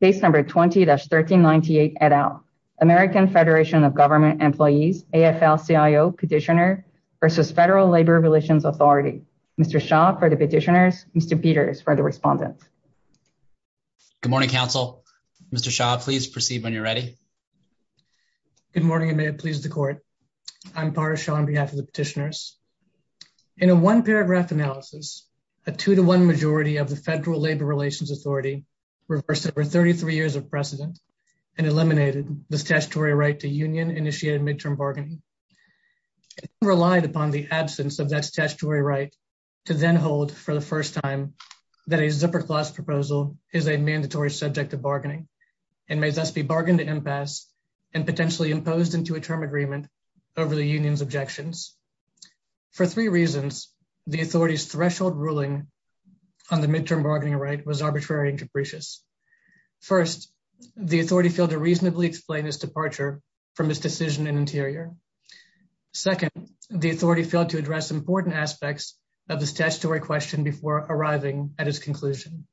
Case number 20-1398 et al. American Federation of Government Employees, AFL-CIO Petitioner versus Federal Labor Relations Authority. Mr. Shah for the petitioners, Mr. Peters for the respondents. Good morning, counsel. Mr. Shah, please proceed when you're ready. Good morning and may it please the court. I'm Parash Shah on behalf of the petitioners. In a one paragraph analysis, a two to one majority of the Federal Labor Relations Authority reversed over 33 years of precedent and eliminated the statutory right to union-initiated midterm bargaining. It relied upon the absence of that statutory right to then hold for the first time that a zipper clause proposal is a mandatory subject of bargaining and may thus be bargained to impasse and potentially imposed into a term agreement over the union's objections. For three reasons, the authority's threshold ruling on the midterm bargaining right was arbitrary and capricious. First, the authority failed to reasonably explain its departure from its decision in interior. Second, the authority failed to address important aspects of the statutory question before arriving at its conclusion.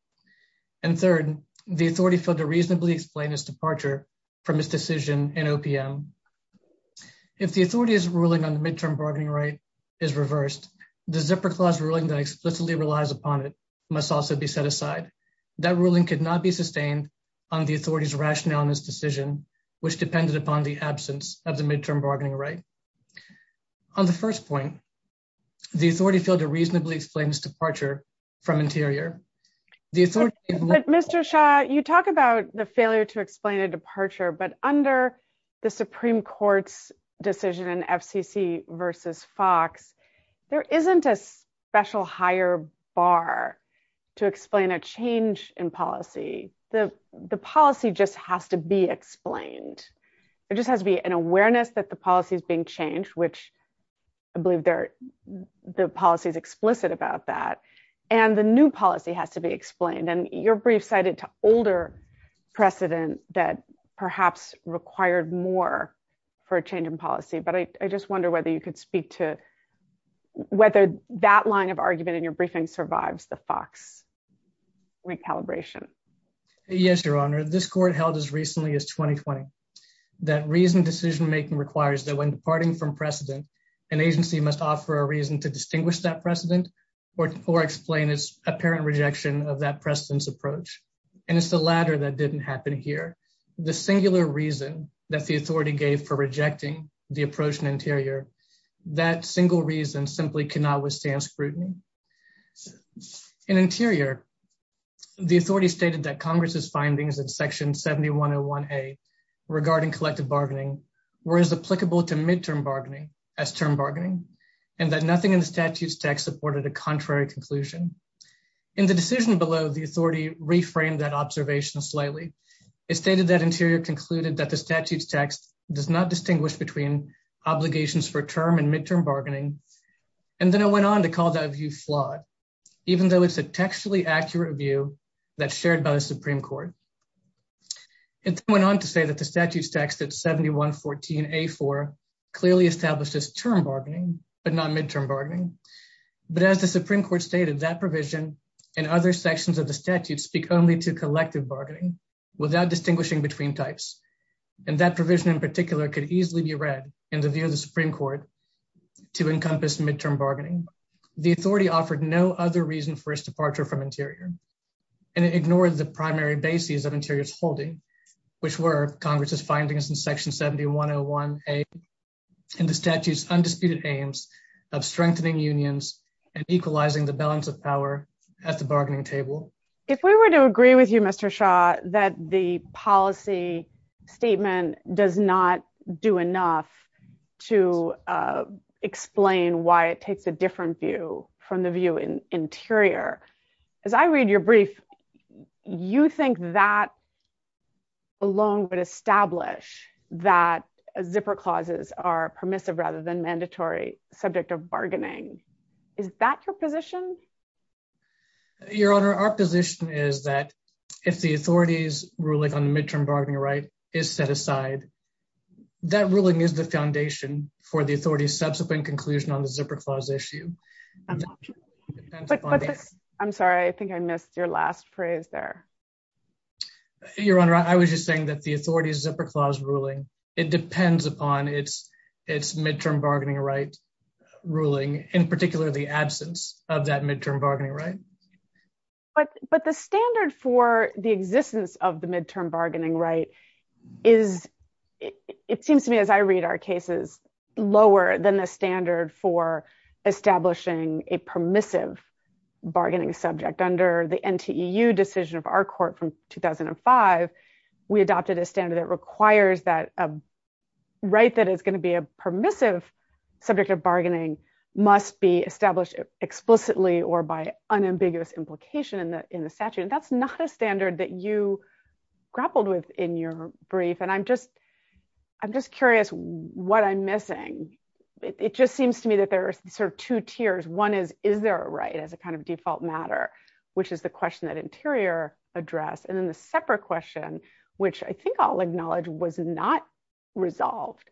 And third, the authority failed to reasonably explain its departure from its decision in OPM. If the authority's ruling on the midterm bargaining right is reversed, the zipper clause ruling that explicitly relies upon it must also be set aside. That ruling could not be sustained on the authority's rationale in this decision, which depended upon the absence of the midterm bargaining right. On the first point, the authority failed to reasonably explain its departure from interior. Mr. Shah, you talk about the failure to explain a departure, but under the Supreme Court's decision in FCC versus Fox, there isn't a special higher bar to explain a change in policy. The policy just has to be explained. There just has to be an awareness that the policy is being changed, which I believe the policy is explicit about that, and the new policy has to be explained. And your brief cited to older precedent that perhaps required more for a change in policy, but I just wonder whether you could speak to whether that line of argument in your briefing survives the Fox recalibration. Yes, Your Honor. This court held as recently as 2020 that reason decision-making requires that when departing from precedent, an agency must offer a reason to distinguish that approach, and it's the latter that didn't happen here. The singular reason that the authority gave for rejecting the approach in interior, that single reason simply cannot withstand scrutiny. In interior, the authority stated that Congress's findings in Section 7101A regarding collective bargaining were as applicable to midterm bargaining as term bargaining, and that nothing in the reframed that observation slightly. It stated that interior concluded that the statute's text does not distinguish between obligations for term and midterm bargaining, and then it went on to call that view flawed, even though it's a textually accurate view that's shared by the Supreme Court. It went on to say that the statute's text at 7114A4 clearly establishes term bargaining, but not midterm bargaining. But as the Supreme Court stated, that provision and other sections of the statute speak only to collective bargaining without distinguishing between types, and that provision in particular could easily be read in the view of the Supreme Court to encompass midterm bargaining. The authority offered no other reason for its departure from interior, and it ignored the primary bases of interior's holding, which were Congress's findings in Section 7101A and the statute's undisputed aims of strengthening unions and equalizing the balance of power at the bargaining table. If we were to agree with you, Mr. Shaw, that the policy statement does not do enough to explain why it takes a different view from the view in interior, as I read your brief, you think that alone would establish that zipper clauses are permissive rather than mandatory subject of bargaining. Is that your position? Your Honor, our position is that if the authority's ruling on the midterm bargaining right is set aside, that ruling is the foundation for the authority's subsequent conclusion on the zipper clause issue. I'm sorry, I think I missed your last phrase there. Your Honor, I was just saying that the authority's zipper clause ruling, it depends upon its midterm bargaining right ruling, in particular, the absence of that midterm bargaining right. But the standard for the existence of the midterm bargaining right is, it seems to me as I read our cases, lower than the standard for establishing a permissive bargaining subject. Under the NTEU decision of our court from 2005, we adopted a standard that a right that is going to be a permissive subject of bargaining must be established explicitly or by unambiguous implication in the statute. And that's not a standard that you grappled with in your brief. And I'm just curious what I'm missing. It just seems to me that there are sort of two tiers. One is, is there a right as a kind of default matter, which is the question that addressed. And then the separate question, which I think I'll acknowledge was not resolved,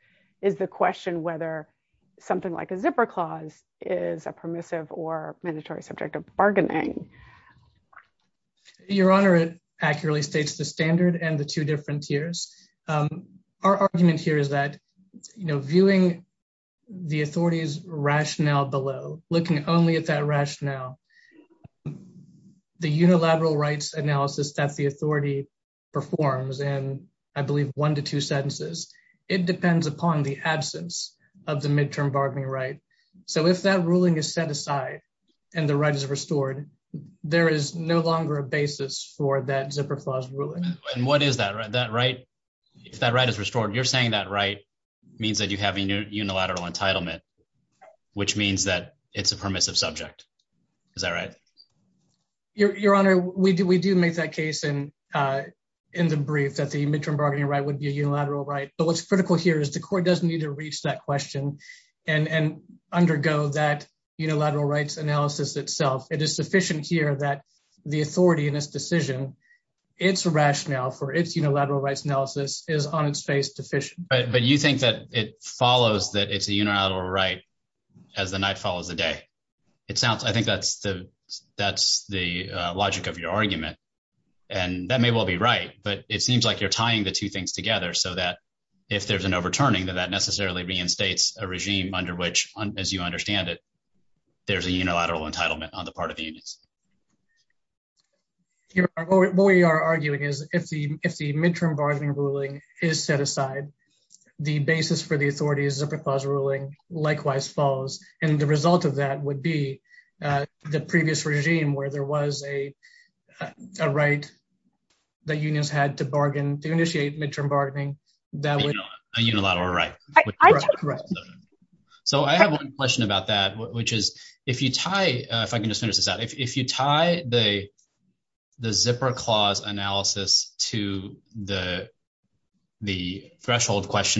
is the question whether something like a zipper clause is a permissive or mandatory subject of bargaining. Your Honor, it accurately states the standard and the two different tiers. Our argument here is that, you know, viewing the authority's rationale below, looking only at that analysis that the authority performs, and I believe one to two sentences, it depends upon the absence of the midterm bargaining right. So if that ruling is set aside and the right is restored, there is no longer a basis for that zipper clause ruling. And what is that right? If that right is restored, you're saying that right means that you have a unilateral entitlement, which means that it's a permissive subject. Is that right? Your Honor, we do make that case in the brief that the midterm bargaining right would be a unilateral right. But what's critical here is the court doesn't need to reach that question and undergo that unilateral rights analysis itself. It is sufficient here that the authority in this decision, its rationale for its unilateral rights analysis is on its face deficient. But you think that it follows that it's a unilateral right as the night follows the day. I think that's the logic of your argument. And that may well be right, but it seems like you're tying the two things together so that if there's an overturning that that necessarily reinstates a regime under which, as you understand it, there's a unilateral entitlement on the part of the unions. Your Honor, what we are arguing is if the midterm bargaining ruling is set aside, the basis for the authority is a clause ruling likewise falls. And the result of that would be the previous regime where there was a right that unions had to bargain to initiate midterm bargaining that was a unilateral right. So I have one question about that, which is if you tie if I in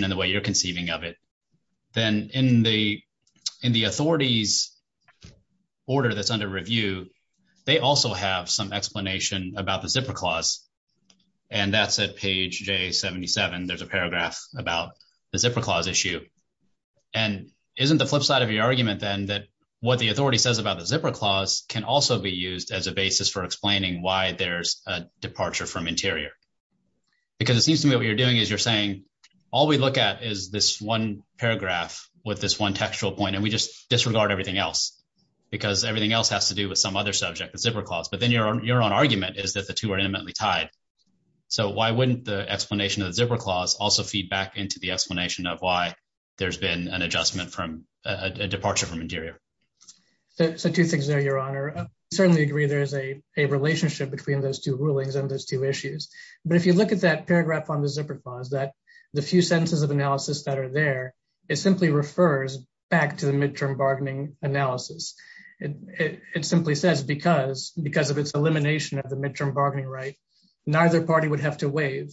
the way you're conceiving of it, then in the authorities order that's under review, they also have some explanation about the zipper clause. And that's at page J77. There's a paragraph about the zipper clause issue. And isn't the flip side of your argument then that what the authority says about the zipper clause can also be used as a basis for explaining why there's a departure from interior? Because it seems to me what you're doing is you're saying all we look at is this one paragraph with this one textual point and we just disregard everything else because everything else has to do with some other subject, the zipper clause. But then your own argument is that the two are intimately tied. So why wouldn't the explanation of the zipper clause also feed back into the explanation of why there's been an adjustment from a departure from interior? So two things there, Your Honor. I certainly agree there is a relationship between those two rulings and those two issues. But if you look at that paragraph on the zipper clause, the few sentences of analysis that are there, it simply refers back to the midterm bargaining analysis. It simply says because of its elimination of the midterm bargaining right, neither party would have to waive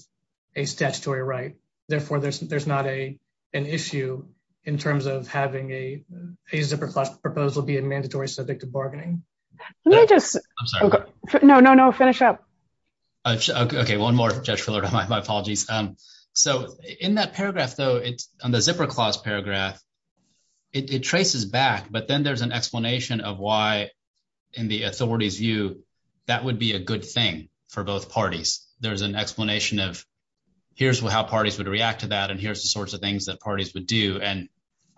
a statutory right. Therefore, there's not an issue in terms of having a zipper clause proposal be a mandatory subject to bargaining. Let me just- I'm sorry. No, no, no. Finish up. Okay. One more, Judge Fuller. My apologies. So in that paragraph though, on the zipper clause paragraph, it traces back, but then there's an explanation of why in the authority's view, that would be a good thing for both parties. There's an explanation of here's how parties would react to that and here's the sorts of things that parties would do. And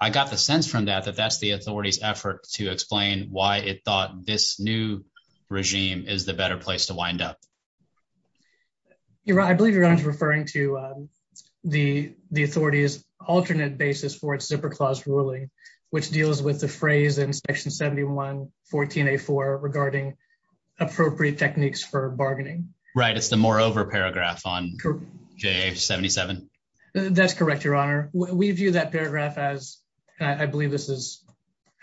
I got the sense from that, that that's the authority's effort to explain why it thought this new to wind up. I believe you're referring to the authority's alternate basis for its zipper clause ruling, which deals with the phrase in section 71, 14A4 regarding appropriate techniques for bargaining. Right. It's the moreover paragraph on J77. That's correct, Your Honor. We view that paragraph as, I believe this is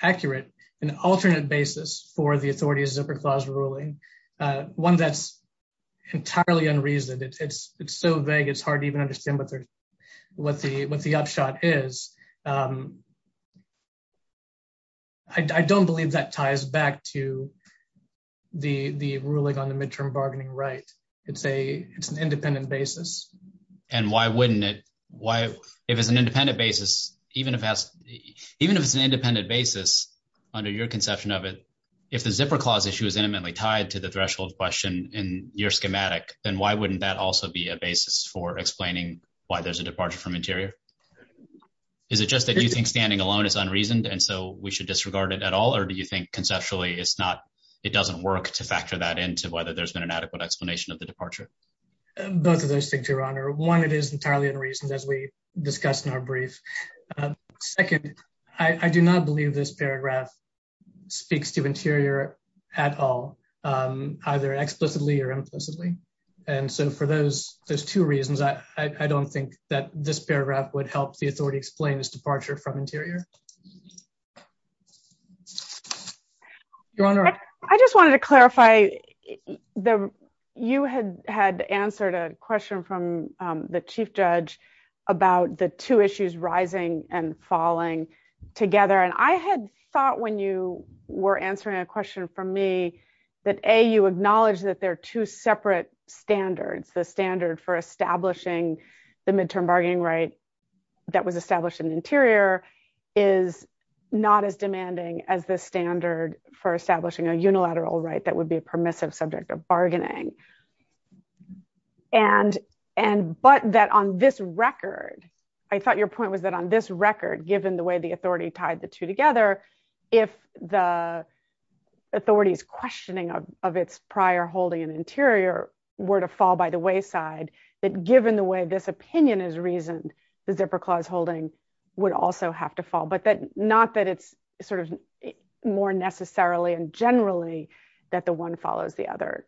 accurate, an alternate basis for the authority's zipper clause ruling. One that's entirely unreasoned. It's so vague, it's hard to even understand what the upshot is. I don't believe that ties back to the ruling on the midterm bargaining right. It's an independent basis. And why wouldn't it? If it's an independent basis, even if it's an independent basis, under your conception of it, if the zipper clause issue is intimately tied to the threshold question in your schematic, then why wouldn't that also be a basis for explaining why there's a departure from interior? Is it just that you think standing alone is unreasoned and so we should disregard it at all? Or do you think conceptually it doesn't work to factor that into whether there's been an adequate explanation of the departure? Both of those things, Your Honor. One, it is entirely unreasoned as we discussed in our brief. Second, I do not believe this paragraph speaks to interior at all, either explicitly or implicitly. And so for those two reasons, I don't think that this paragraph would help the authority explain this departure from interior. Your Honor. I just wanted to clarify, you had answered a question from the Chief Judge about the two issues, rising and falling, together. And I had thought when you were answering a question from me that A, you acknowledged that there are two separate standards. The standard for establishing the midterm bargaining right that was established in interior is not as demanding as the standard for establishing a unilateral right that would be a permissive subject of bargaining. And, but that on this record, I thought your point was that on this record, given the way the authority tied the two together, if the authority's questioning of its prior holding in interior were to fall by the wayside, that given the way this opinion is reasoned, the and generally that the one follows the other.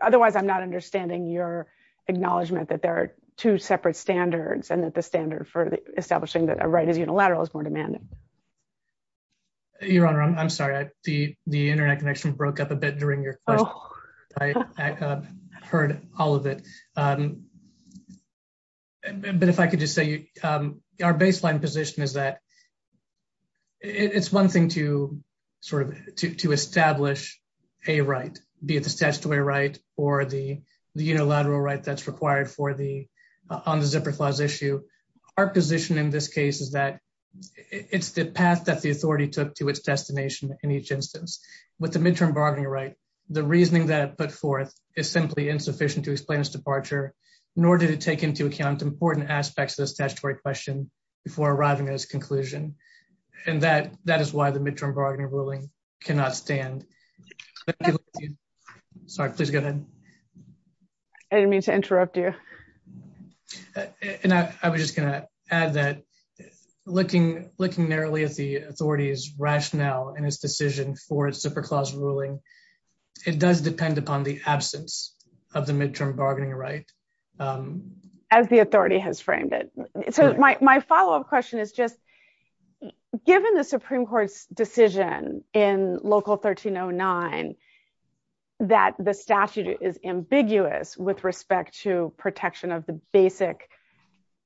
Otherwise I'm not understanding your acknowledgement that there are two separate standards and that the standard for establishing that a right is unilateral is more demanding. Your Honor, I'm sorry. The internet connection broke up a bit during your question. I heard all of it. But if I could just say, our baseline position is that it's one thing to sort of, to establish a right, be it the statutory right or the unilateral right that's required for the, on the zipper clause issue. Our position in this case is that it's the path that the authority took to its destination in each instance. With the midterm bargaining right, the reasoning that put forth is simply insufficient to explain its departure, nor did it take into account important aspects of this statutory question before arriving at its conclusion. And that, that is why the midterm bargaining ruling cannot stand. Sorry, please go ahead. I didn't mean to interrupt you. And I was just going to add that looking, looking narrowly at the authority's rationale and its decision for its zipper clause ruling, it does depend upon the absence of the midterm bargaining right. As the authority has framed it. So my follow-up question is just, given the Supreme Court's decision in local 1309, that the statute is ambiguous with respect to protection of the basic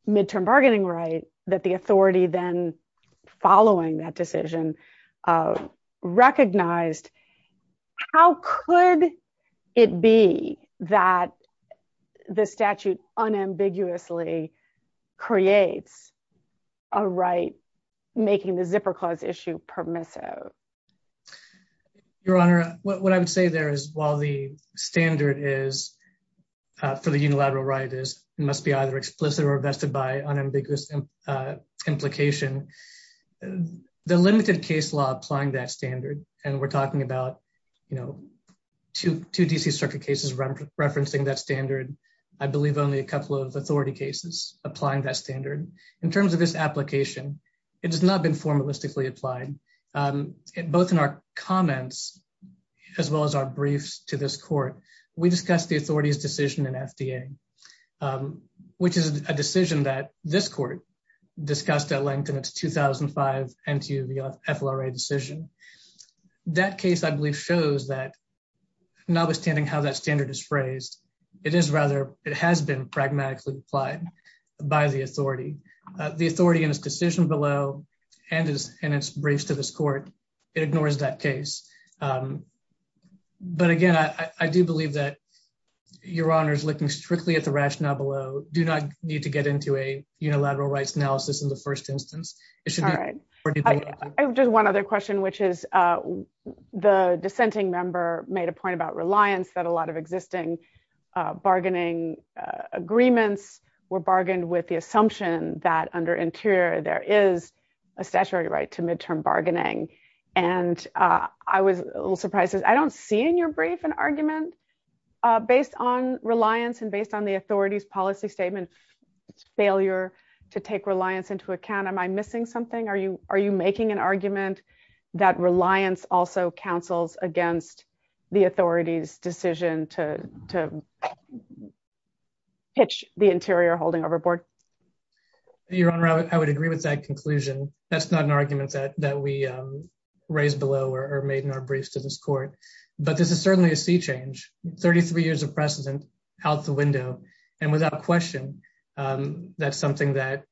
midterm bargaining right that the authority then following that decision recognized, how could it be that the statute unambiguously creates a right making the zipper clause issue permissive? Your Honor, what I would say there is while the standard is for the unilateral right is must be either explicit or vested by unambiguous implication, the limited case law applying that standard. And we're talking about, you know, two, two DC circuit cases referencing that standard. I believe only a couple of authority cases applying that standard in terms of this application. It has not been formalistically applied both in our comments, as well as our briefs to this court. We discussed the authority's decision in FDA, which is a decision that this court discussed at length in its 2005 and to the FLRA decision. That case, I believe, shows that notwithstanding how that standard is phrased, it is rather, it has been pragmatically applied by the authority. The authority in this decision below and in its briefs to this court, it ignores that case. But again, I do believe that Your Honor's looking strictly at the rationale below do not need to get into a unilateral rights analysis in the first instance. All right. Just one other question, which is the dissenting member made a point about reliance that a lot of existing bargaining agreements were bargained with the assumption that under interior, there is a statutory right to midterm bargaining. And I was a little surprised because I don't see in your brief an argument based on reliance and based on the authority's policy statement, failure to take reliance into account. Am I missing something? Are you making an argument that reliance also counsels against the authority's decision to pitch the interior holding overboard? Your Honor, I would agree with that conclusion. That's not an argument that we raised below or made in our briefs to this court. But this is certainly a sea change, 33 years of precedent out the window. And without question, that's something that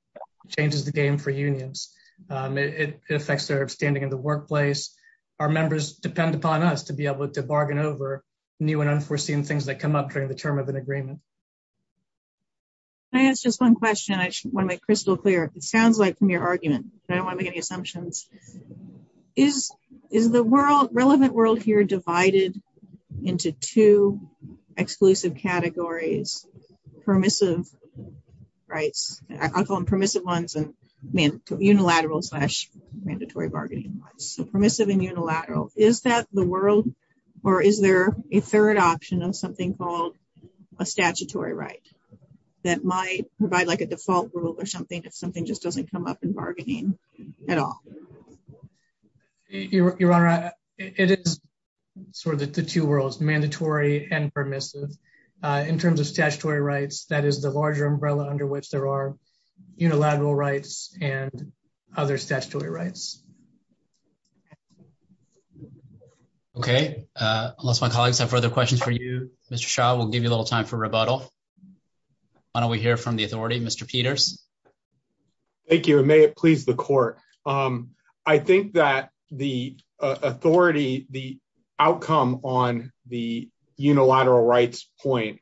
changes the game for unions. It affects their standing in the workplace. Our members depend upon us to be able to bargain over new and unforeseen things that come up during the term of an agreement. Can I ask just one question? I want to make crystal clear. It sounds like from your argument, but I don't want to make any assumptions. Is the relevant world here divided into two exclusive categories, permissive rights? I'll call them permissive ones and unilateral slash mandatory bargaining rights. So permissive and unilateral. Is that the world or is there a third option of something called a statutory right that might provide like a default rule or something if something just doesn't come up in bargaining at all? Your Honor, it is sort of the two worlds, mandatory and permissive. In terms of statutory rights, that is the larger umbrella under which there are unilateral rights and other statutory rights. Okay. Unless my colleagues have further questions for you, Mr. Shah, we'll give you a minute to address the authority, Mr. Peters. Thank you. And may it please the court. I think that the authority, the outcome on the unilateral rights point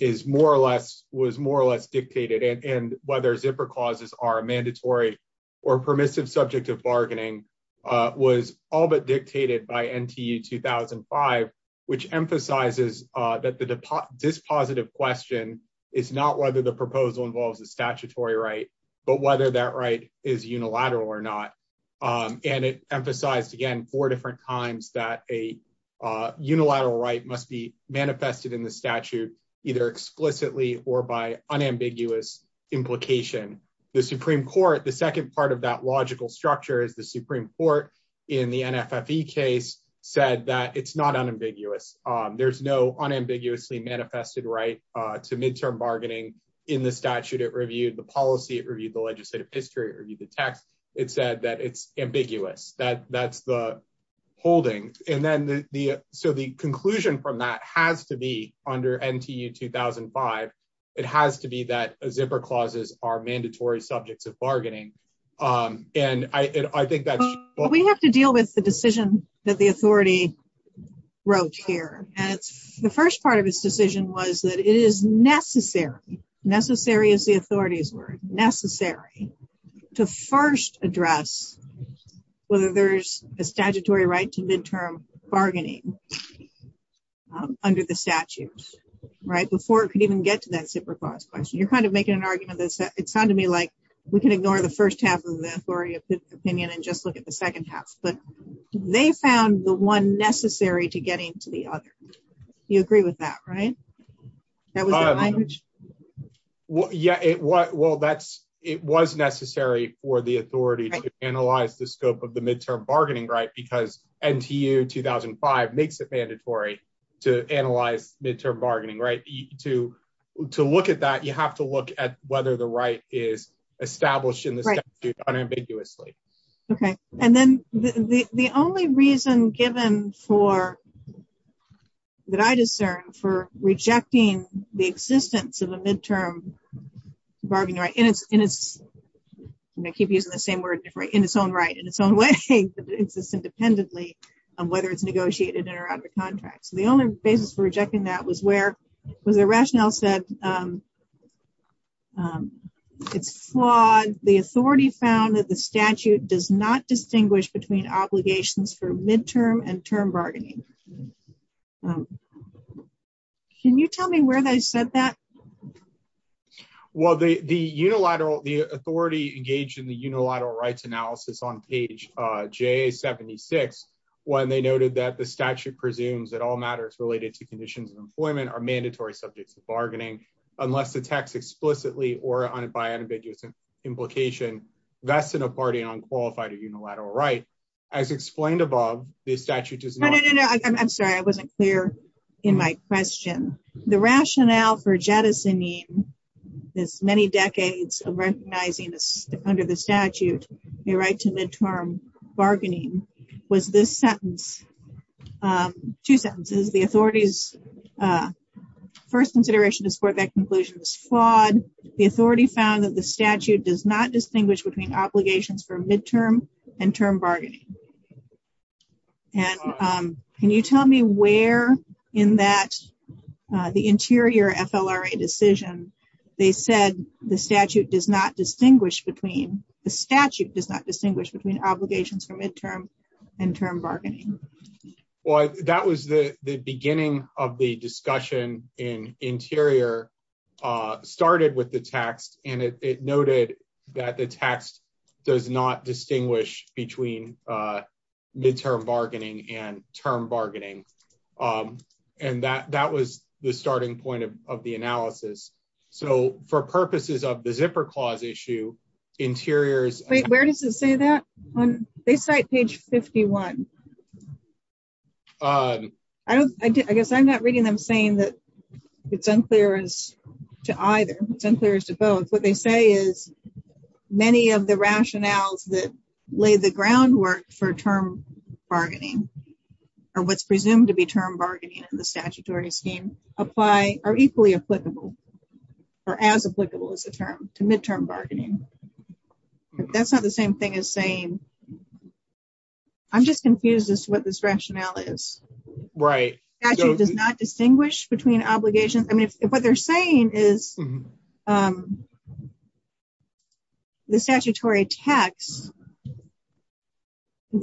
is more or less, was more or less dictated and whether zipper clauses are mandatory or permissive subject of bargaining was all but involves a statutory right, but whether that right is unilateral or not. And it emphasized again, four different times that a unilateral right must be manifested in the statute, either explicitly or by unambiguous implication. The Supreme Court, the second part of that logical structure is the Supreme Court in the NFFE case said that it's not unambiguous. There's no statute. It reviewed the policy, it reviewed the legislative history, it reviewed the text. It said that it's ambiguous, that that's the holding. And then the, so the conclusion from that has to be under NTU 2005, it has to be that a zipper clauses are mandatory subjects of bargaining. And I think that's... We have to deal with the decision that the authority wrote here. And it's the first part of his decision was that it is necessary, necessary as the authorities were, necessary to first address whether there's a statutory right to midterm bargaining under the statute, right? Before it could even get to that zipper clause question. You're kind of making an argument that it sounded to me like we can ignore the first half of the authority of opinion and just look at the second half, but they found the one necessary to getting to the other. You agree with that, right? That was the language? Yeah. Well, that's, it was necessary for the authority to analyze the scope of the midterm bargaining, right? Because NTU 2005 makes it mandatory to analyze midterm bargaining, right? To look at that, you have to look at whether the right is established in the statute unambiguously. Okay. And then the only reason given for that I discern for rejecting the existence of a midterm bargaining right in its, in its, and I keep using the same word, right? In its own right, in its own way that exists independently on whether it's negotiated in or out of the contract. So the only basis for rejecting that was where was the rationale said it's flawed. The authority found that the statute does not um, can you tell me where they said that? Well, the, the unilateral, the authority engaged in the unilateral rights analysis on page, uh, J 76, when they noted that the statute presumes that all matters related to conditions of employment are mandatory subjects of bargaining, unless the text explicitly or on a, by an ambiguous implication, that's in a party on qualified or unilateral, right? As explained above the statute is no, no, no, no. I'm sorry. I wasn't clear in my question. The rationale for jettisoning this many decades of recognizing this under the statute, a right to midterm bargaining was this sentence. Um, two sentences, the authorities, uh, first consideration to support that conclusion was flawed. The authority found that the statute does not distinguish between obligations for midterm and term bargaining. And, um, can you tell me where in that, uh, the interior FLRA decision, they said the statute does not distinguish between the statute does not distinguish between obligations for midterm and term bargaining. Well, that was the, the beginning of the discussion in interior, uh, with the text and it noted that the text does not distinguish between, uh, midterm bargaining and term bargaining. Um, and that, that was the starting point of, of the analysis. So for purposes of the zipper clause issue interiors, wait, where does it say that when they cite page 51, I don't, I guess I'm not reading them saying that it's unclear as to either it's unclear as to both what they say is many of the rationales that lay the groundwork for term bargaining or what's presumed to be term bargaining in the statutory scheme apply are equally applicable or as applicable as a term to midterm bargaining. But that's not the same thing as saying, I'm just confused as to what this rationale is. Right. Does not distinguish between obligations. I mean, if, if what they're saying is, um, the statutory tax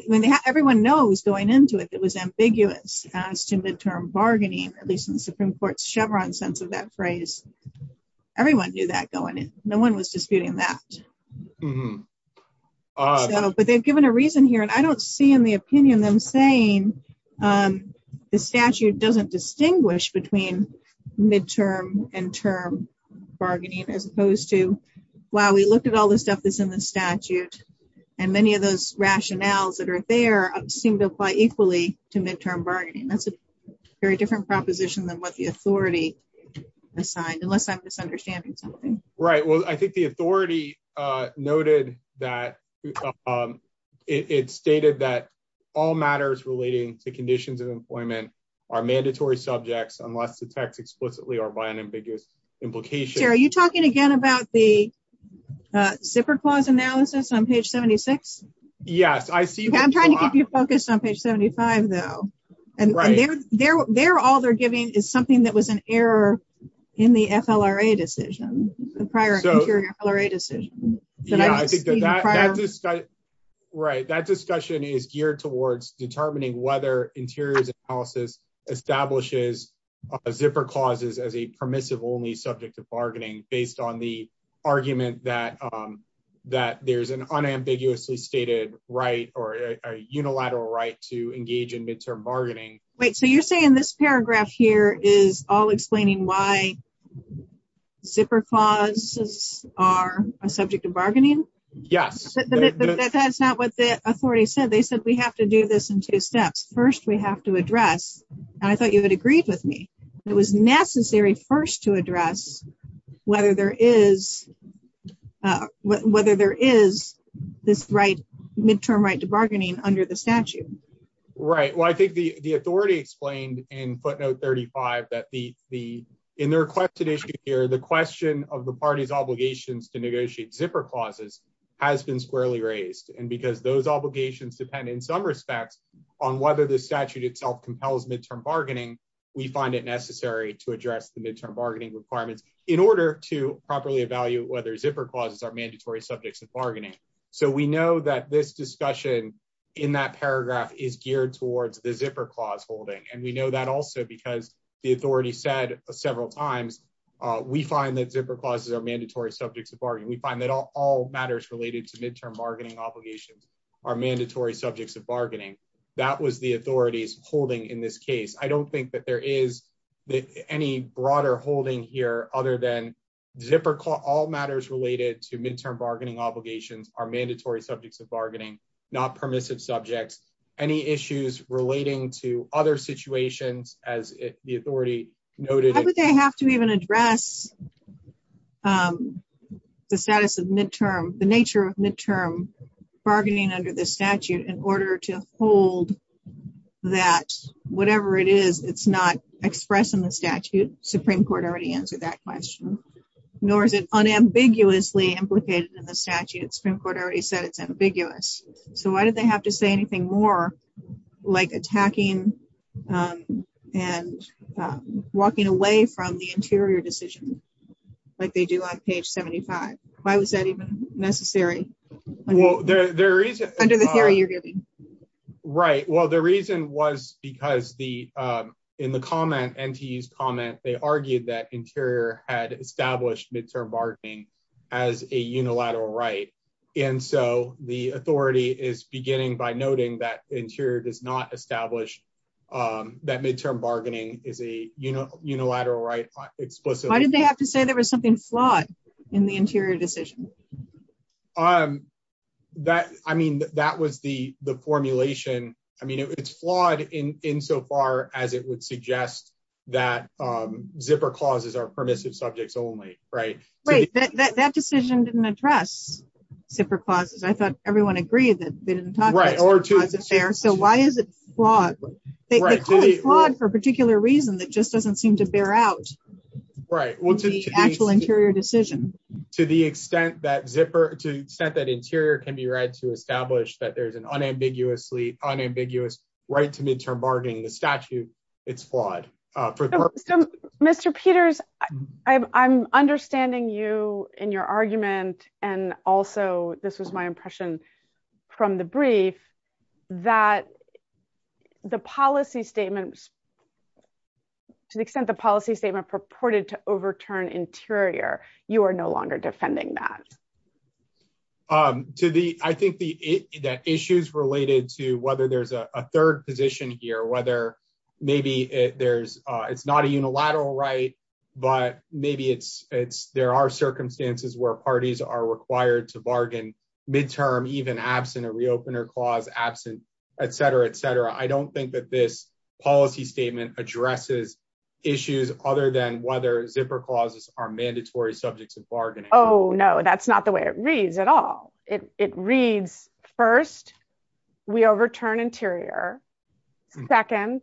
when everyone knows going into it, it was ambiguous as to midterm bargaining, at least in the Supreme court's Chevron sense of phrase. Everyone knew that going in, no one was disputing that, but they've given a reason here. And I don't see in the opinion them saying, um, the statute doesn't distinguish between midterm and term bargaining, as opposed to, wow, we looked at all this stuff that's in the statute and many of those rationales that are there seem to apply equally to midterm bargaining. That's a very different proposition than what the authority assigned, unless I'm misunderstanding something. Right. Well, I think the authority, uh, noted that, um, it, it stated that all matters relating to conditions of employment are mandatory subjects, unless the tax explicitly are by an ambiguous implication. Are you talking again about the zipper clause analysis on page 76? Yes, I see. I'm trying to keep you focused on page 75 though. And they're, they're, they're, all they're giving is something that was an error in the FLRA decision prior to your FLRA decision. Right. That discussion is geared towards determining whether interiors analysis establishes a zipper clauses as a permissive only subject to bargaining based on the right or a unilateral right to engage in midterm bargaining. Wait, so you're saying this paragraph here is all explaining why zipper clauses are a subject of bargaining? Yes. But that's not what the authority said. They said, we have to do this in two steps. First, we have to address, and I thought you had agreed with me. It was necessary first to address whether there is, uh, whether there is this right midterm right to bargaining under the statute. Right. Well, I think the, the authority explained in footnote 35 that the, the, in their requested issue here, the question of the party's obligations to negotiate zipper clauses has been squarely raised. And because those obligations depend in some respects on whether the statute itself compels midterm bargaining, we find it necessary to address the midterm bargaining requirements in order to properly evaluate whether zipper clauses are mandatory subjects of bargaining. So we know that this discussion in that paragraph is geared towards the zipper clause holding. And we know that also because the authority said several times, we find that zipper clauses are mandatory subjects of bargaining. We find that all matters related to midterm bargaining obligations are mandatory subjects of bargaining. That was the authority's holding in this case. I don't think that there is any broader holding here, other than zipper call, all matters related to midterm bargaining obligations are mandatory subjects of bargaining, not permissive subjects, any issues relating to other situations as the authority noted, they have to even address, um, the status of midterm, the nature of midterm bargaining under the statute in order to hold that whatever it is, it's not expressed in the statute. Supreme court already answered that question, nor is it unambiguously implicated in the statute. Supreme court already said it's ambiguous. So why did they have to say anything more like attacking, um, and, um, walking away from the interior decision like they do on page 75? Why was that even necessary? Well, there, there is under the theory you're giving, right? Well, the reason was because the, um, in the comment and he's comment, they argued that interior had established midterm bargaining as a unilateral right. And so the authority is beginning by noting that interior does not establish, um, that midterm bargaining is a, you know, unilateral right explicitly. Why did they have to say there was something flawed in the interior decision? Um, that, I mean, that was the, the formulation. I mean, it's flawed in, in so far as it would suggest that, um, zipper clauses are permissive subjects only, right? Right. That decision didn't address zipper clauses. I thought everyone agreed that they didn't talk about it there. So why is it flawed for a particular reason that just doesn't seem to bear out right. Well, to the actual interior decision, to the extent that zipper to set that interior can be read to establish that there's an unambiguously unambiguous right to midterm bargaining, the statute it's flawed. Uh, Mr. Peters, I'm, I'm understanding you in your argument. And also this was my impression from the brief that the policy statements, to the extent the policy statement purported to overturn interior, you are no longer defending that. Um, to the, I think the, the issues related to whether there's a third position here, whether maybe there's a, it's not a unilateral right, but maybe it's, it's, there are circumstances where parties are required to bargain midterm, even absent a reopener clause, absent, et cetera, et cetera. I don't think that this policy statement addresses issues other than whether zipper clauses are mandatory subjects of bargaining. Oh, no, that's not the way it reads at all. It, it reads first, we overturn interior second,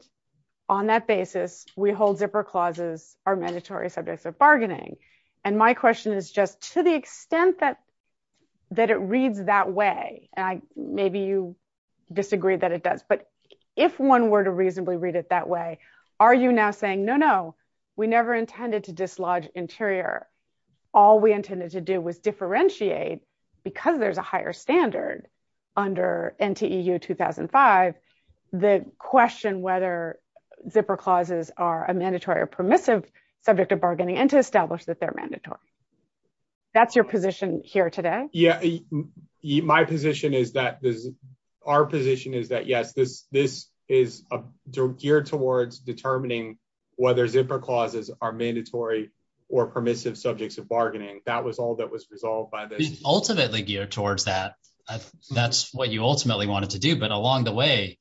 on that basis, we hold zipper clauses are mandatory subjects of bargaining. And my question is just to the extent that, that it reads that way. And I, maybe you disagree that it does, but if one were to reasonably read it that way, are you now saying, no, no, we never intended to dislodge interior. All we intended to do was differentiate because there's a higher standard under NTEU 2005, the question, whether zipper clauses are a mandatory or permissive subject of bargaining and to establish that they're mandatory. That's your position here today. Yeah. My position is that this, our position is that, yes, this, this is geared towards determining whether zipper clauses are mandatory or permissive subjects of bargaining. That was all that was resolved by this ultimately geared towards that. That's what you ultimately wanted to do. But along the way,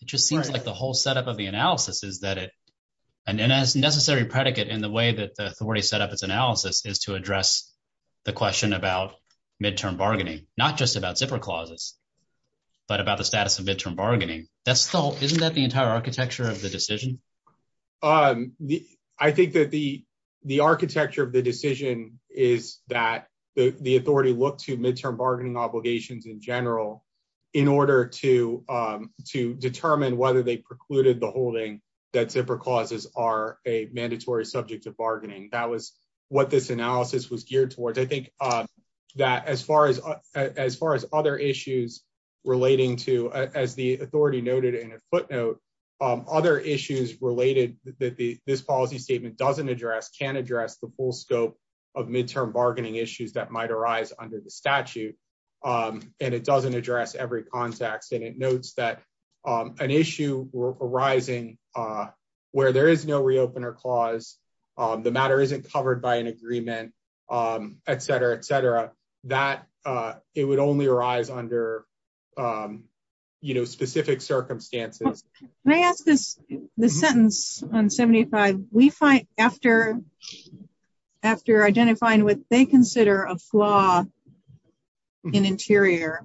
it just seems like the whole setup of the analysis is that it, and as necessary predicate in the way that the authority set up its analysis is to address the question about midterm bargaining, not just about zipper clauses, but about the status of midterm bargaining. That's still, isn't that the entire architecture of the decision? I think that the, the architecture of the decision is that the authority looked to midterm bargaining obligations in general, in order to, to determine whether they precluded the holding that zipper clauses are a mandatory subject of bargaining. That was what this analysis was geared towards. I think that as far as, as far as other issues relating to, as the authority noted in a footnote, other issues related that the, this policy statement doesn't address, can address the full scope of midterm bargaining issues that might arise under the statute. And it doesn't address every context. And it notes that an issue arising where there is no reopener clause, the matter isn't covered by an agreement, et cetera, et cetera, that it would only arise under, you know, specific circumstances. Can I ask this, the sentence on 75, we find after, after identifying what they consider a flaw in interior,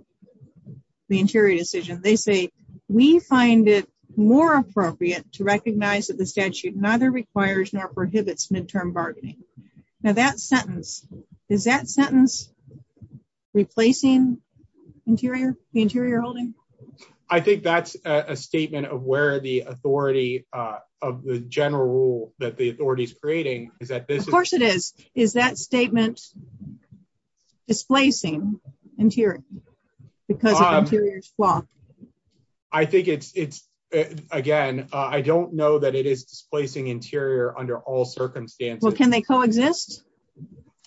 the interior decision, they say, we find it more appropriate to recognize that the statute neither requires nor prohibits midterm bargaining. Now that sentence, is that sentence replacing interior, the interior holding? I think that's a statement of where the authority of the general rule that the authority is creating is that this, of course it is, is that statement displacing interior because of interior's flaw? I think it's, it's, again, I don't know that it is displacing interior under all circumstances. Well, can they coexist?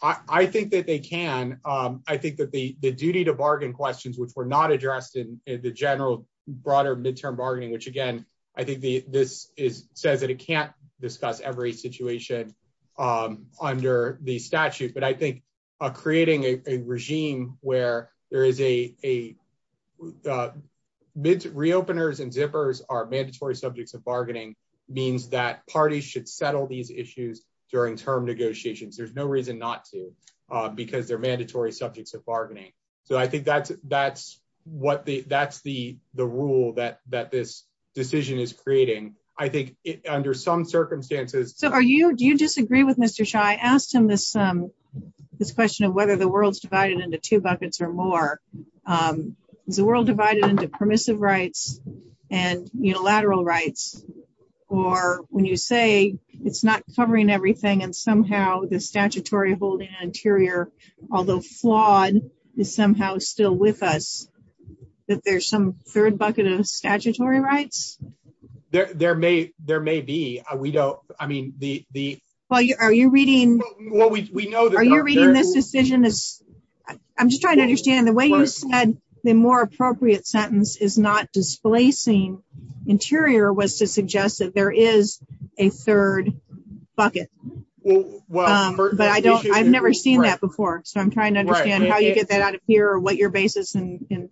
I think that they can. I think that the, the duty to bargain questions, which were not addressed in the general broader midterm bargaining, which again, I think the, this is says that it can't discuss every situation under the statute, but I think creating a regime where there is a, a mid reopeners and zippers are mandatory subjects of bargaining means that parties should settle these issues during term negotiations. There's no reason not to because they're mandatory subjects of bargaining. So I think that's, that's what the, that's the, the rule that, that this decision is creating. I think under some circumstances. So are you, do you disagree with Mr. Shah? I asked him this, this question of whether the world's divided into two buckets or more, is the world divided into permissive rights and unilateral rights, or when you say it's not covering everything and somehow the statutory holding interior, although flawed is somehow still with us, that there's some third bucket of statutory rights. There, there may, there may be, we don't, I mean, the, the, well, are you reading, are you reading this decision is I'm just trying to understand the way you said the more appropriate sentence is not displacing interior was to suggest that there is a third bucket, but I don't, I've never seen that before. So I'm trying to understand how you get that out of here or what your basis in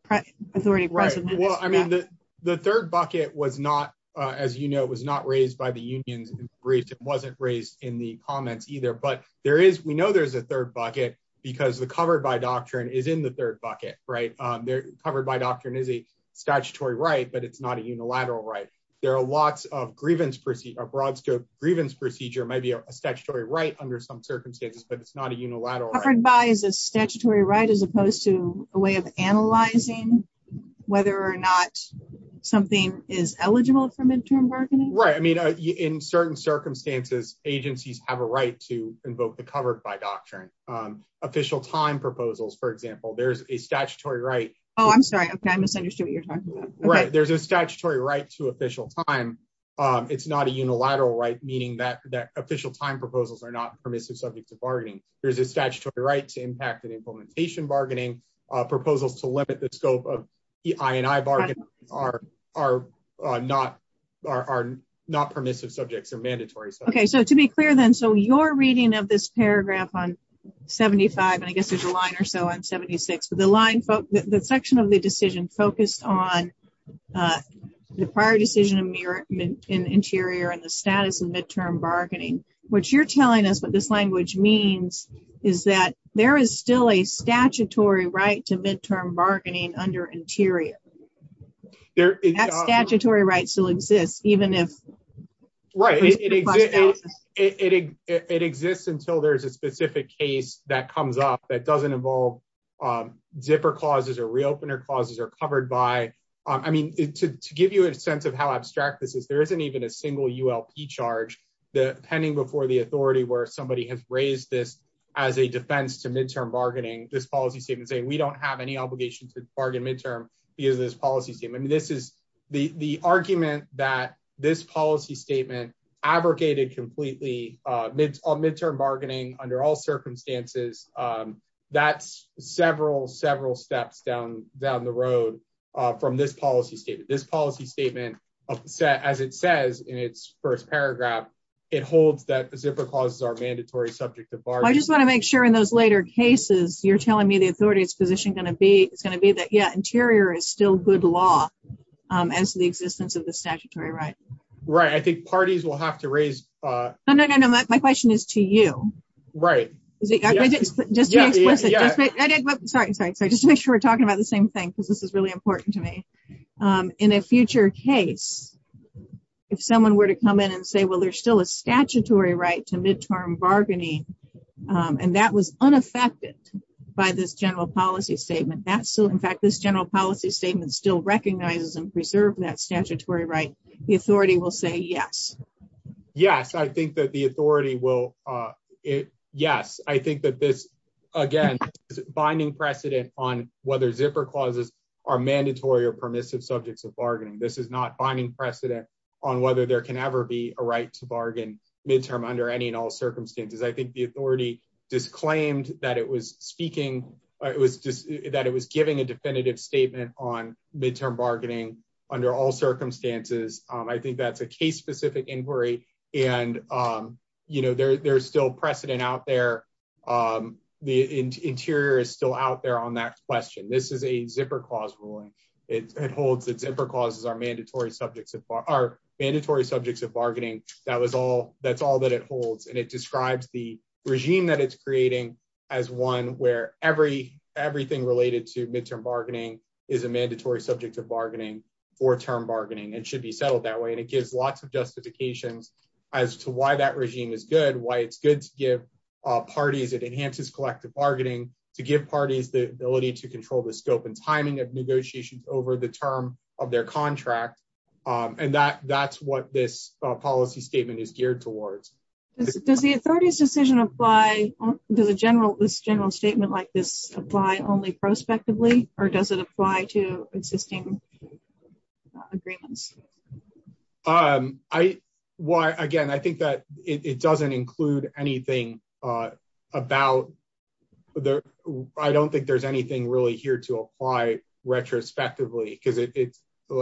authority. Well, I mean, the, the third bucket was not, as you know, it was not raised by the unions. It wasn't raised in the comments either, but there is, we know there's a third bucket because the covered by doctrine is in the third bucket, right? They're covered by doctrine is a statutory right, but it's not a unilateral, right? There are lots of grievance proceed, a broad scope grievance procedure, maybe a statutory right under some circumstances, but it's not a unilateral. Is a statutory right, as opposed to a way of analyzing whether or not something is eligible for midterm bargaining. Right. I mean, in certain circumstances, agencies have a right to invoke the covered by doctrine, official time proposals. For example, there's a statutory right. Oh, I'm sorry. Okay. I misunderstood what you're talking about, right? There's a statutory right to official time. It's not a unilateral, right? Meaning that that official time proposals are not permissive subject to bargaining. There's a statutory right to impact and implementation bargaining proposals to limit the scope of EINI bargaining are not permissive subjects or mandatory. Okay. So to be clear then, so you're reading of this paragraph on 75, and I guess there's a line or so on 76, but the section of the decision focused on the prior decision in interior and the status of midterm bargaining, which you're telling us what this language means is that there is still a statutory right to midterm bargaining under interior. That statutory right still exists, even if. Right. It exists until there's a specific case that comes up that doesn't involve zipper clauses or reopener clauses are covered by, I mean, to give you a sense of how abstract this is, there isn't even a single ULP charge pending before the authority where somebody has raised this as a defense to midterm bargaining, this policy statement saying, we don't have any obligation to bargain midterm because of this policy statement. I mean, this is the argument that this policy statement abrogated completely midterm bargaining under all circumstances. That's several, several steps down the road from this policy statement, this policy statement upset, as it says in its first paragraph, it holds that zipper clauses are mandatory subject to bar. I just want to make sure in those later cases, you're telling me the authority it's positioned going to be, it's going to be that yeah, interior is still good law as the existence of the statutory right. Right. I think parties will have to raise. No, no, no, no. My question is to you. Right. Is it just to be explicit? Sorry, sorry, sorry, just to make sure we're talking about the same thing, because this is really important to me. In a future case, if someone were to come in and say, well, there's still a statutory right to midterm bargaining. And that was unaffected by this general policy statement. That's so in fact, this general policy statement still recognizes and preserve that statutory right? The authority will say yes. Yes, I think that the authority will it? Yes, I think that this, again, binding precedent on whether zipper clauses are mandatory or permissive subjects of bargaining. This is not finding precedent on whether there can ever be a right to bargain midterm under any and all circumstances. I think the authority disclaimed that it was speaking, it was just that it was giving a definitive statement on midterm bargaining under all circumstances. I think that's a case specific inquiry. And, you know, there's still precedent out there. The interior is still out there on that question. This is a zipper clause ruling. It holds that zipper clauses are mandatory subjects of our mandatory subjects of bargaining. That was all that's all that it holds. And it describes the regime that it's creating as one where every everything related to midterm bargaining is a mandatory subject of bargaining for term bargaining and should be settled that way. And it gives lots of justifications as to why that regime is good, why it's good to give parties it enhances collective bargaining to give parties the ability to control the scope and timing of negotiations over the term of their contract. And that that's what this policy statement is geared towards. Does the authority's decision apply to the general this general statement like this apply only prospectively? Or does it apply to existing agreements? Um, I why again, I think that it doesn't include anything about the I don't think there's anything really here to apply retrospectively, because it's,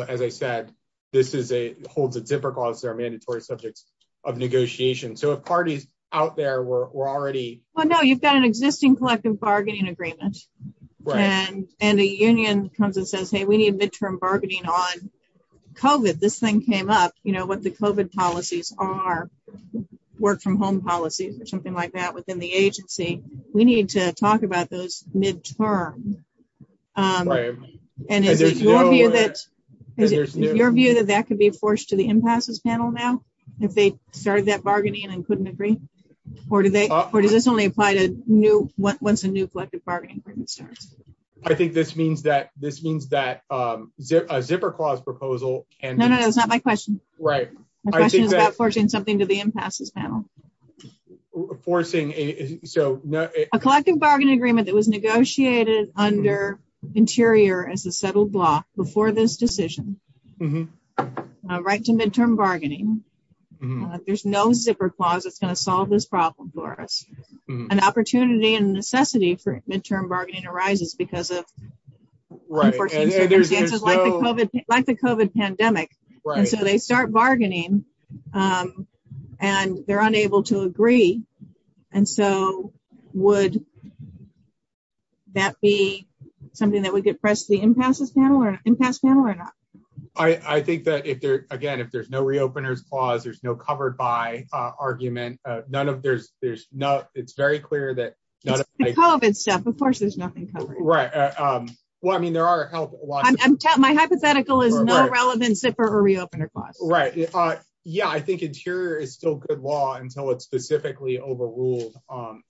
as I said, this is a holds a zipper clause are mandatory subjects of negotiation. So if parties out there were already well, no, you've got an existing collective bargaining agreement. And, and the union comes and says, hey, we need midterm bargaining on COVID. This thing came up, you know, what the COVID policies are work from home policies or something like that within the agency, we need to talk about those midterm. And your view that that could be forced to the impasses panel now, if they started that bargaining and couldn't agree? Or do they? Or does this only apply to new once a new collective bargaining agreement starts? I think this means that this means that a zipper clause proposal and no, no, it's not my question. Right? Forging something to the impasses panel. forcing a collective bargaining agreement that was negotiated under interior as a settled block before this decision. Right to midterm bargaining. There's no zipper clause, it's going to solve this problem for us. An opportunity and necessity for midterm bargaining arises because of like the COVID pandemic, right? So they start bargaining. And they're unable to agree. And so would that be something that would get pressed the impasses panel or impasse panel or not? I think that if there again, if there's no reopeners clause, there's no covered by argument. None of there's, there's no, it's very clear that COVID stuff, of course, there's nothing covered. Right? Well, I mean, there are a lot. My hypothetical is no relevant zipper or specifically overruled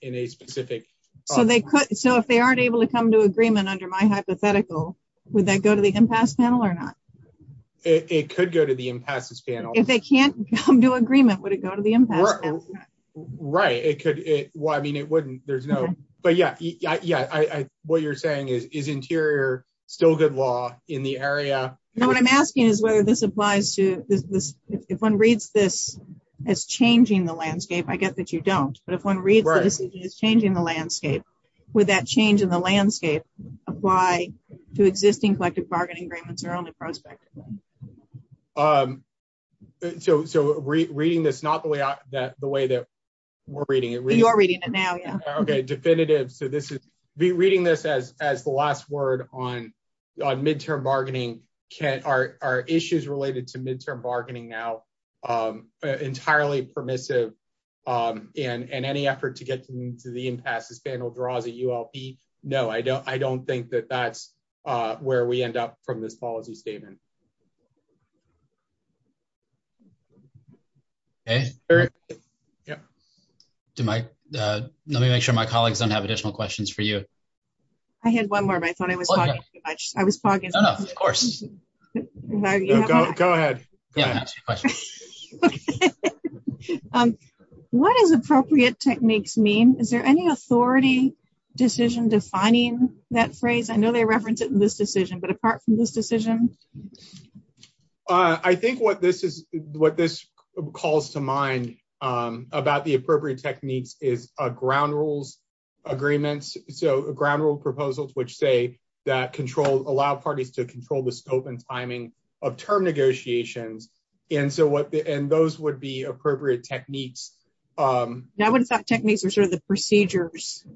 in a specific. So they could so if they aren't able to come to agreement under my hypothetical, would that go to the impasse panel or not? It could go to the impasses panel. If they can't come to agreement, would it go to the impasse panel? Right? It could it well, I mean, it wouldn't, there's no, but yeah, yeah, I what you're saying is, is interior still good law in the area? No, what I'm asking is whether this applies to this, if one reads this as changing the landscape, I get that you don't, but if one reads it as changing the landscape, would that change in the landscape apply to existing collective bargaining agreements or only prospect? So, so re reading this, not the way that the way that we're reading it, you're reading it now. Yeah. Okay. Definitive. So this is be reading this as, as the last word on, on midterm bargaining, can our, our issues related to midterm bargaining now, entirely permissive and, and any effort to get to the impasses panel draws a ULP. No, I don't, I don't think that that's where we end up from this policy statement. Okay. Yeah. Do my, let me make sure my colleagues don't have additional questions for you. I had one more, but I thought I was talking too much. I was talking. Of course. Go ahead. What is appropriate techniques mean? Is there any authority decision defining that phrase? I know they referenced it in this decision, but apart from this decision, I think what this is, what this calls to mind about the appropriate techniques is a ground rules agreements. So a ground rule proposals, which say that control allow parties to control the scope and timing of term negotiations. And so what, and those would be appropriate techniques. Now, what is that techniques are sort of the procedures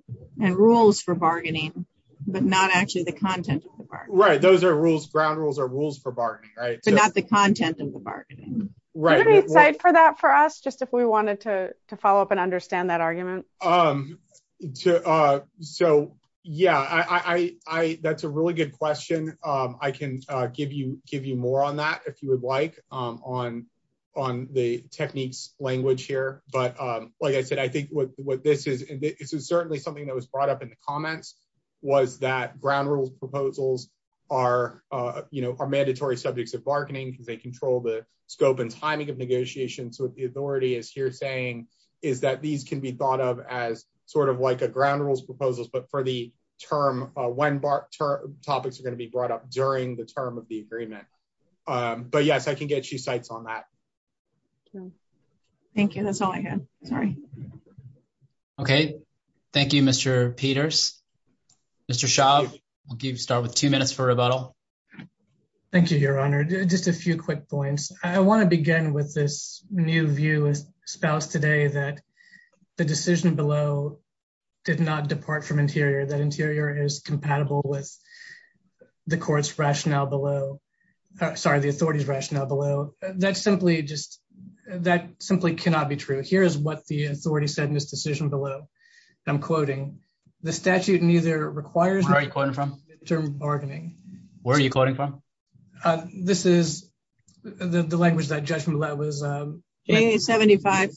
and rules for bargaining, but not actually the content. Right. Those are rules. Ground rules are rules for bargaining, right. So not the content of the bargaining, right. For that, for us, just if we wanted to so yeah, I, I, I, that's a really good question. I can give you, give you more on that if you would like on, on the techniques language here. But like I said, I think what this is, this is certainly something that was brought up in the comments was that ground rules proposals are you know, are mandatory subjects of bargaining because they control the scope and timing of negotiation. So what the authority is here saying is that these can be thought of as sort of like a ground rules proposals, but for the term, uh, when bar topics are going to be brought up during the term of the agreement. Um, but yes, I can get you sites on that. Thank you. That's all I had. Sorry. Okay. Thank you, Mr. Peters, Mr. Shaw. I'll give you start with two minutes for rebuttal. Thank you, your honor. Just a few quick points. I want to begin with this new view as spouse today that the decision below did not depart from interior, that interior is compatible with the court's rationale below, sorry, the authority's rationale below that simply just, that simply cannot be true. Here's what the authority said in this decision below. I'm quoting the statute, neither requires term bargaining. Where are you quoting from? This is the language that judgment level is a 75.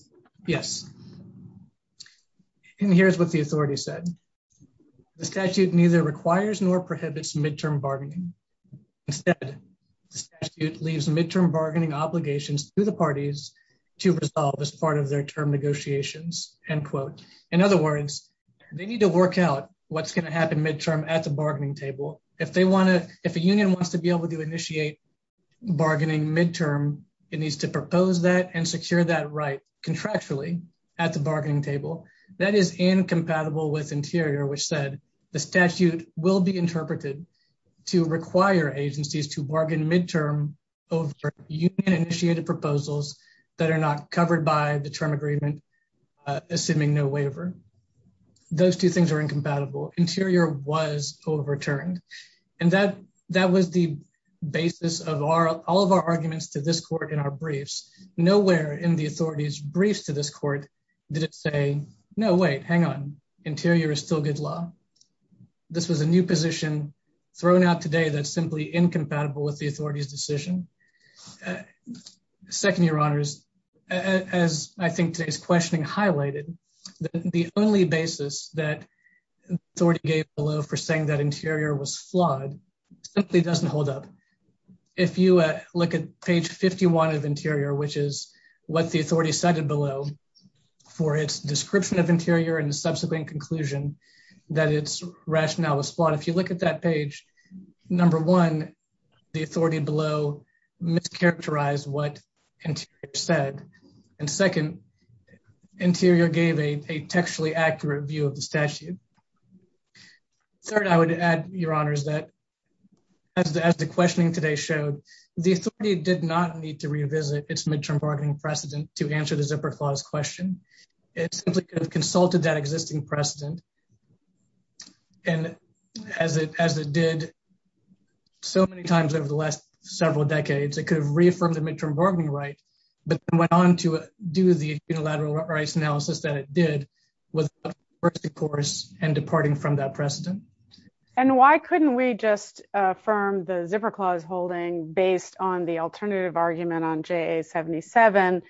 Yes. And here's what the authority said. The statute neither requires nor prohibits midterm bargaining. Instead, it leaves midterm bargaining obligations to the parties to resolve as part of their term negotiations and quote. In other words, they need to work out what's going to happen midterm at the bargaining table. If they want to, if a union wants to be able to initiate bargaining midterm, it needs to propose that and secure that right contractually at the bargaining table. That is incompatible with interior, which said the statute will be interpreted to require agencies to bargain midterm over initiated proposals that are not covered by the term agreement, assuming no waiver. Those two things are incompatible. Interior was overturned. And that, that was the basis of our, all of our arguments to this court in our briefs. Nowhere in the authority's briefs to this court did it say, no, wait, hang on. Interior is still good law. This was a new position thrown out today that's simply incompatible with the authority's decision. Uh, second, your honors, as I think today's questioning highlighted, the only basis that authority gave below for saying that interior was flawed simply doesn't hold up. If you, uh, look at page 51 of interior, which is what the authority cited below for its description of interior and the subsequent conclusion that its rationale was flawed. If you look at that page, number one, the authority below mischaracterized what interior said. And second, interior gave a textually accurate view of the statute. Third, I would add your honors that as the, as the questioning today showed, the authority did not need to revisit its midterm bargaining precedent to answer the zipper clause question. It simply could have consulted that so many times over the last several decades, it could have reaffirmed the midterm bargaining right, but then went on to do the unilateral rights analysis that it did with the first course and departing from that precedent. And why couldn't we just, uh, firm the zipper clause holding based on the alternative argument on JA 77,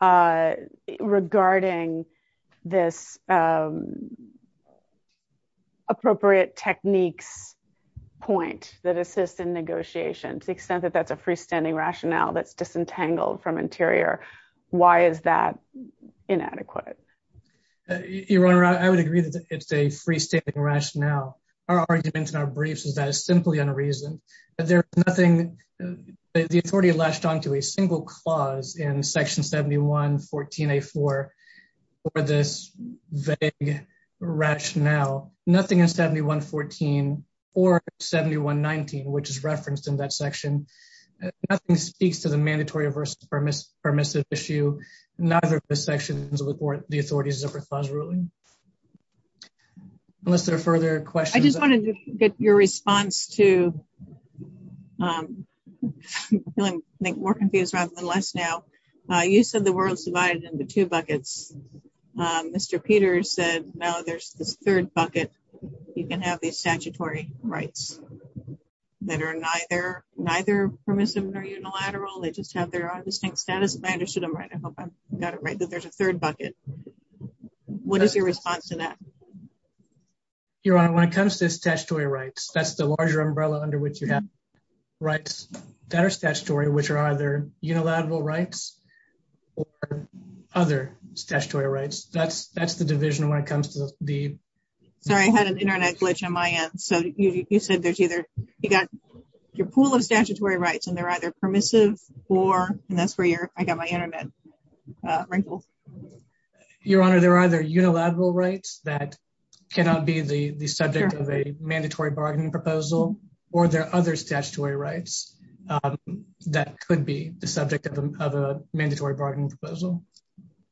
uh, regarding this, um, techniques point that assist in negotiation to the extent that that's a freestanding rationale that's disentangled from interior. Why is that inadequate? Your honor, I would agree that it's a freestanding rationale. Our arguments in our briefs is that it's simply on a reason, but there's nothing, the authority latched onto a single clause in 7114 or 7119, which is referenced in that section. Nothing speaks to the mandatory versus permissive issue. Neither of the sections of the court, the authorities zipper clause ruling, unless there are further questions. I just want to get your response to, um, make more confused rather than less. Now, uh, you said the world's divided into two buckets. Um, Mr. Peter said, no, there's this third bucket. You can have these statutory rights that are neither, neither permissive nor unilateral. They just have their own distinct status. And I understood him, right? I hope I got it right that there's a third bucket. What is your response to that? Your honor, when it comes to this statutory rights, that's the larger umbrella under which you have rights that are statutory, which are either unilateral rights or other statutory rights. That's, that's the division when it comes to the, sorry, I had an internet glitch on my end. So you said there's either, you got your pool of statutory rights and they're either permissive or, and that's where your, I got my internet wrinkled. Your honor, there are other unilateral rights that cannot be the subject of a mandatory bargaining proposal, or there are other statutory rights, um, that could be the subject of a, of a mandatory bargaining proposal.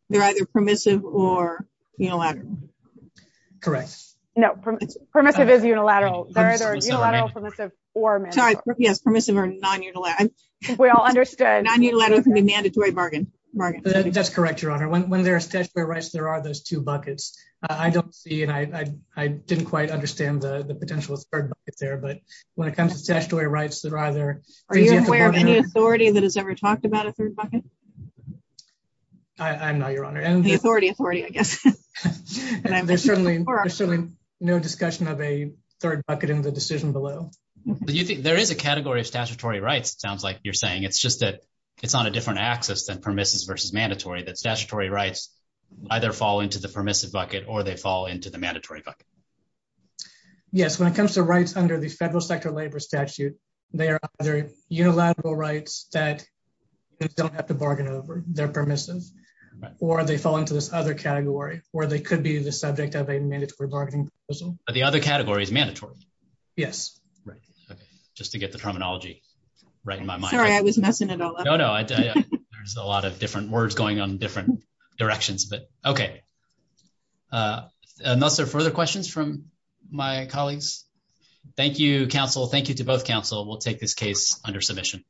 They're either permissive or unilateral. Correct. No, permissive is unilateral. Yes. Permissive or non-unilateral. We all understand. Non-unilateral can be a mandatory bargain. That's correct. Your honor. When, when there are statutory rights, there are those two there, but when it comes to statutory rights that are either, are you aware of any authority that has ever talked about a third bucket? I'm not your honor. The authority, authority, I guess. And there's certainly, there's certainly no discussion of a third bucket in the decision below. Do you think there is a category of statutory rights? It sounds like you're saying, it's just that it's on a different axis than permissive versus mandatory, that statutory rights either fall into the permissive bucket or they fall into the mandatory bucket. Yes. When it comes to rights under the federal sector labor statute, they are either unilateral rights that don't have to bargain over, they're permissive, or they fall into this other category where they could be the subject of a mandatory bargaining proposal. But the other category is mandatory. Yes. Right. Okay. Just to get the terminology right in my mind. Sorry, I was messing it all up. No, no, there's a lot of different words going on in different directions, but okay. Unless there are further questions from my colleagues. Thank you, counsel. Thank you to both counsel. We'll take this case under submission.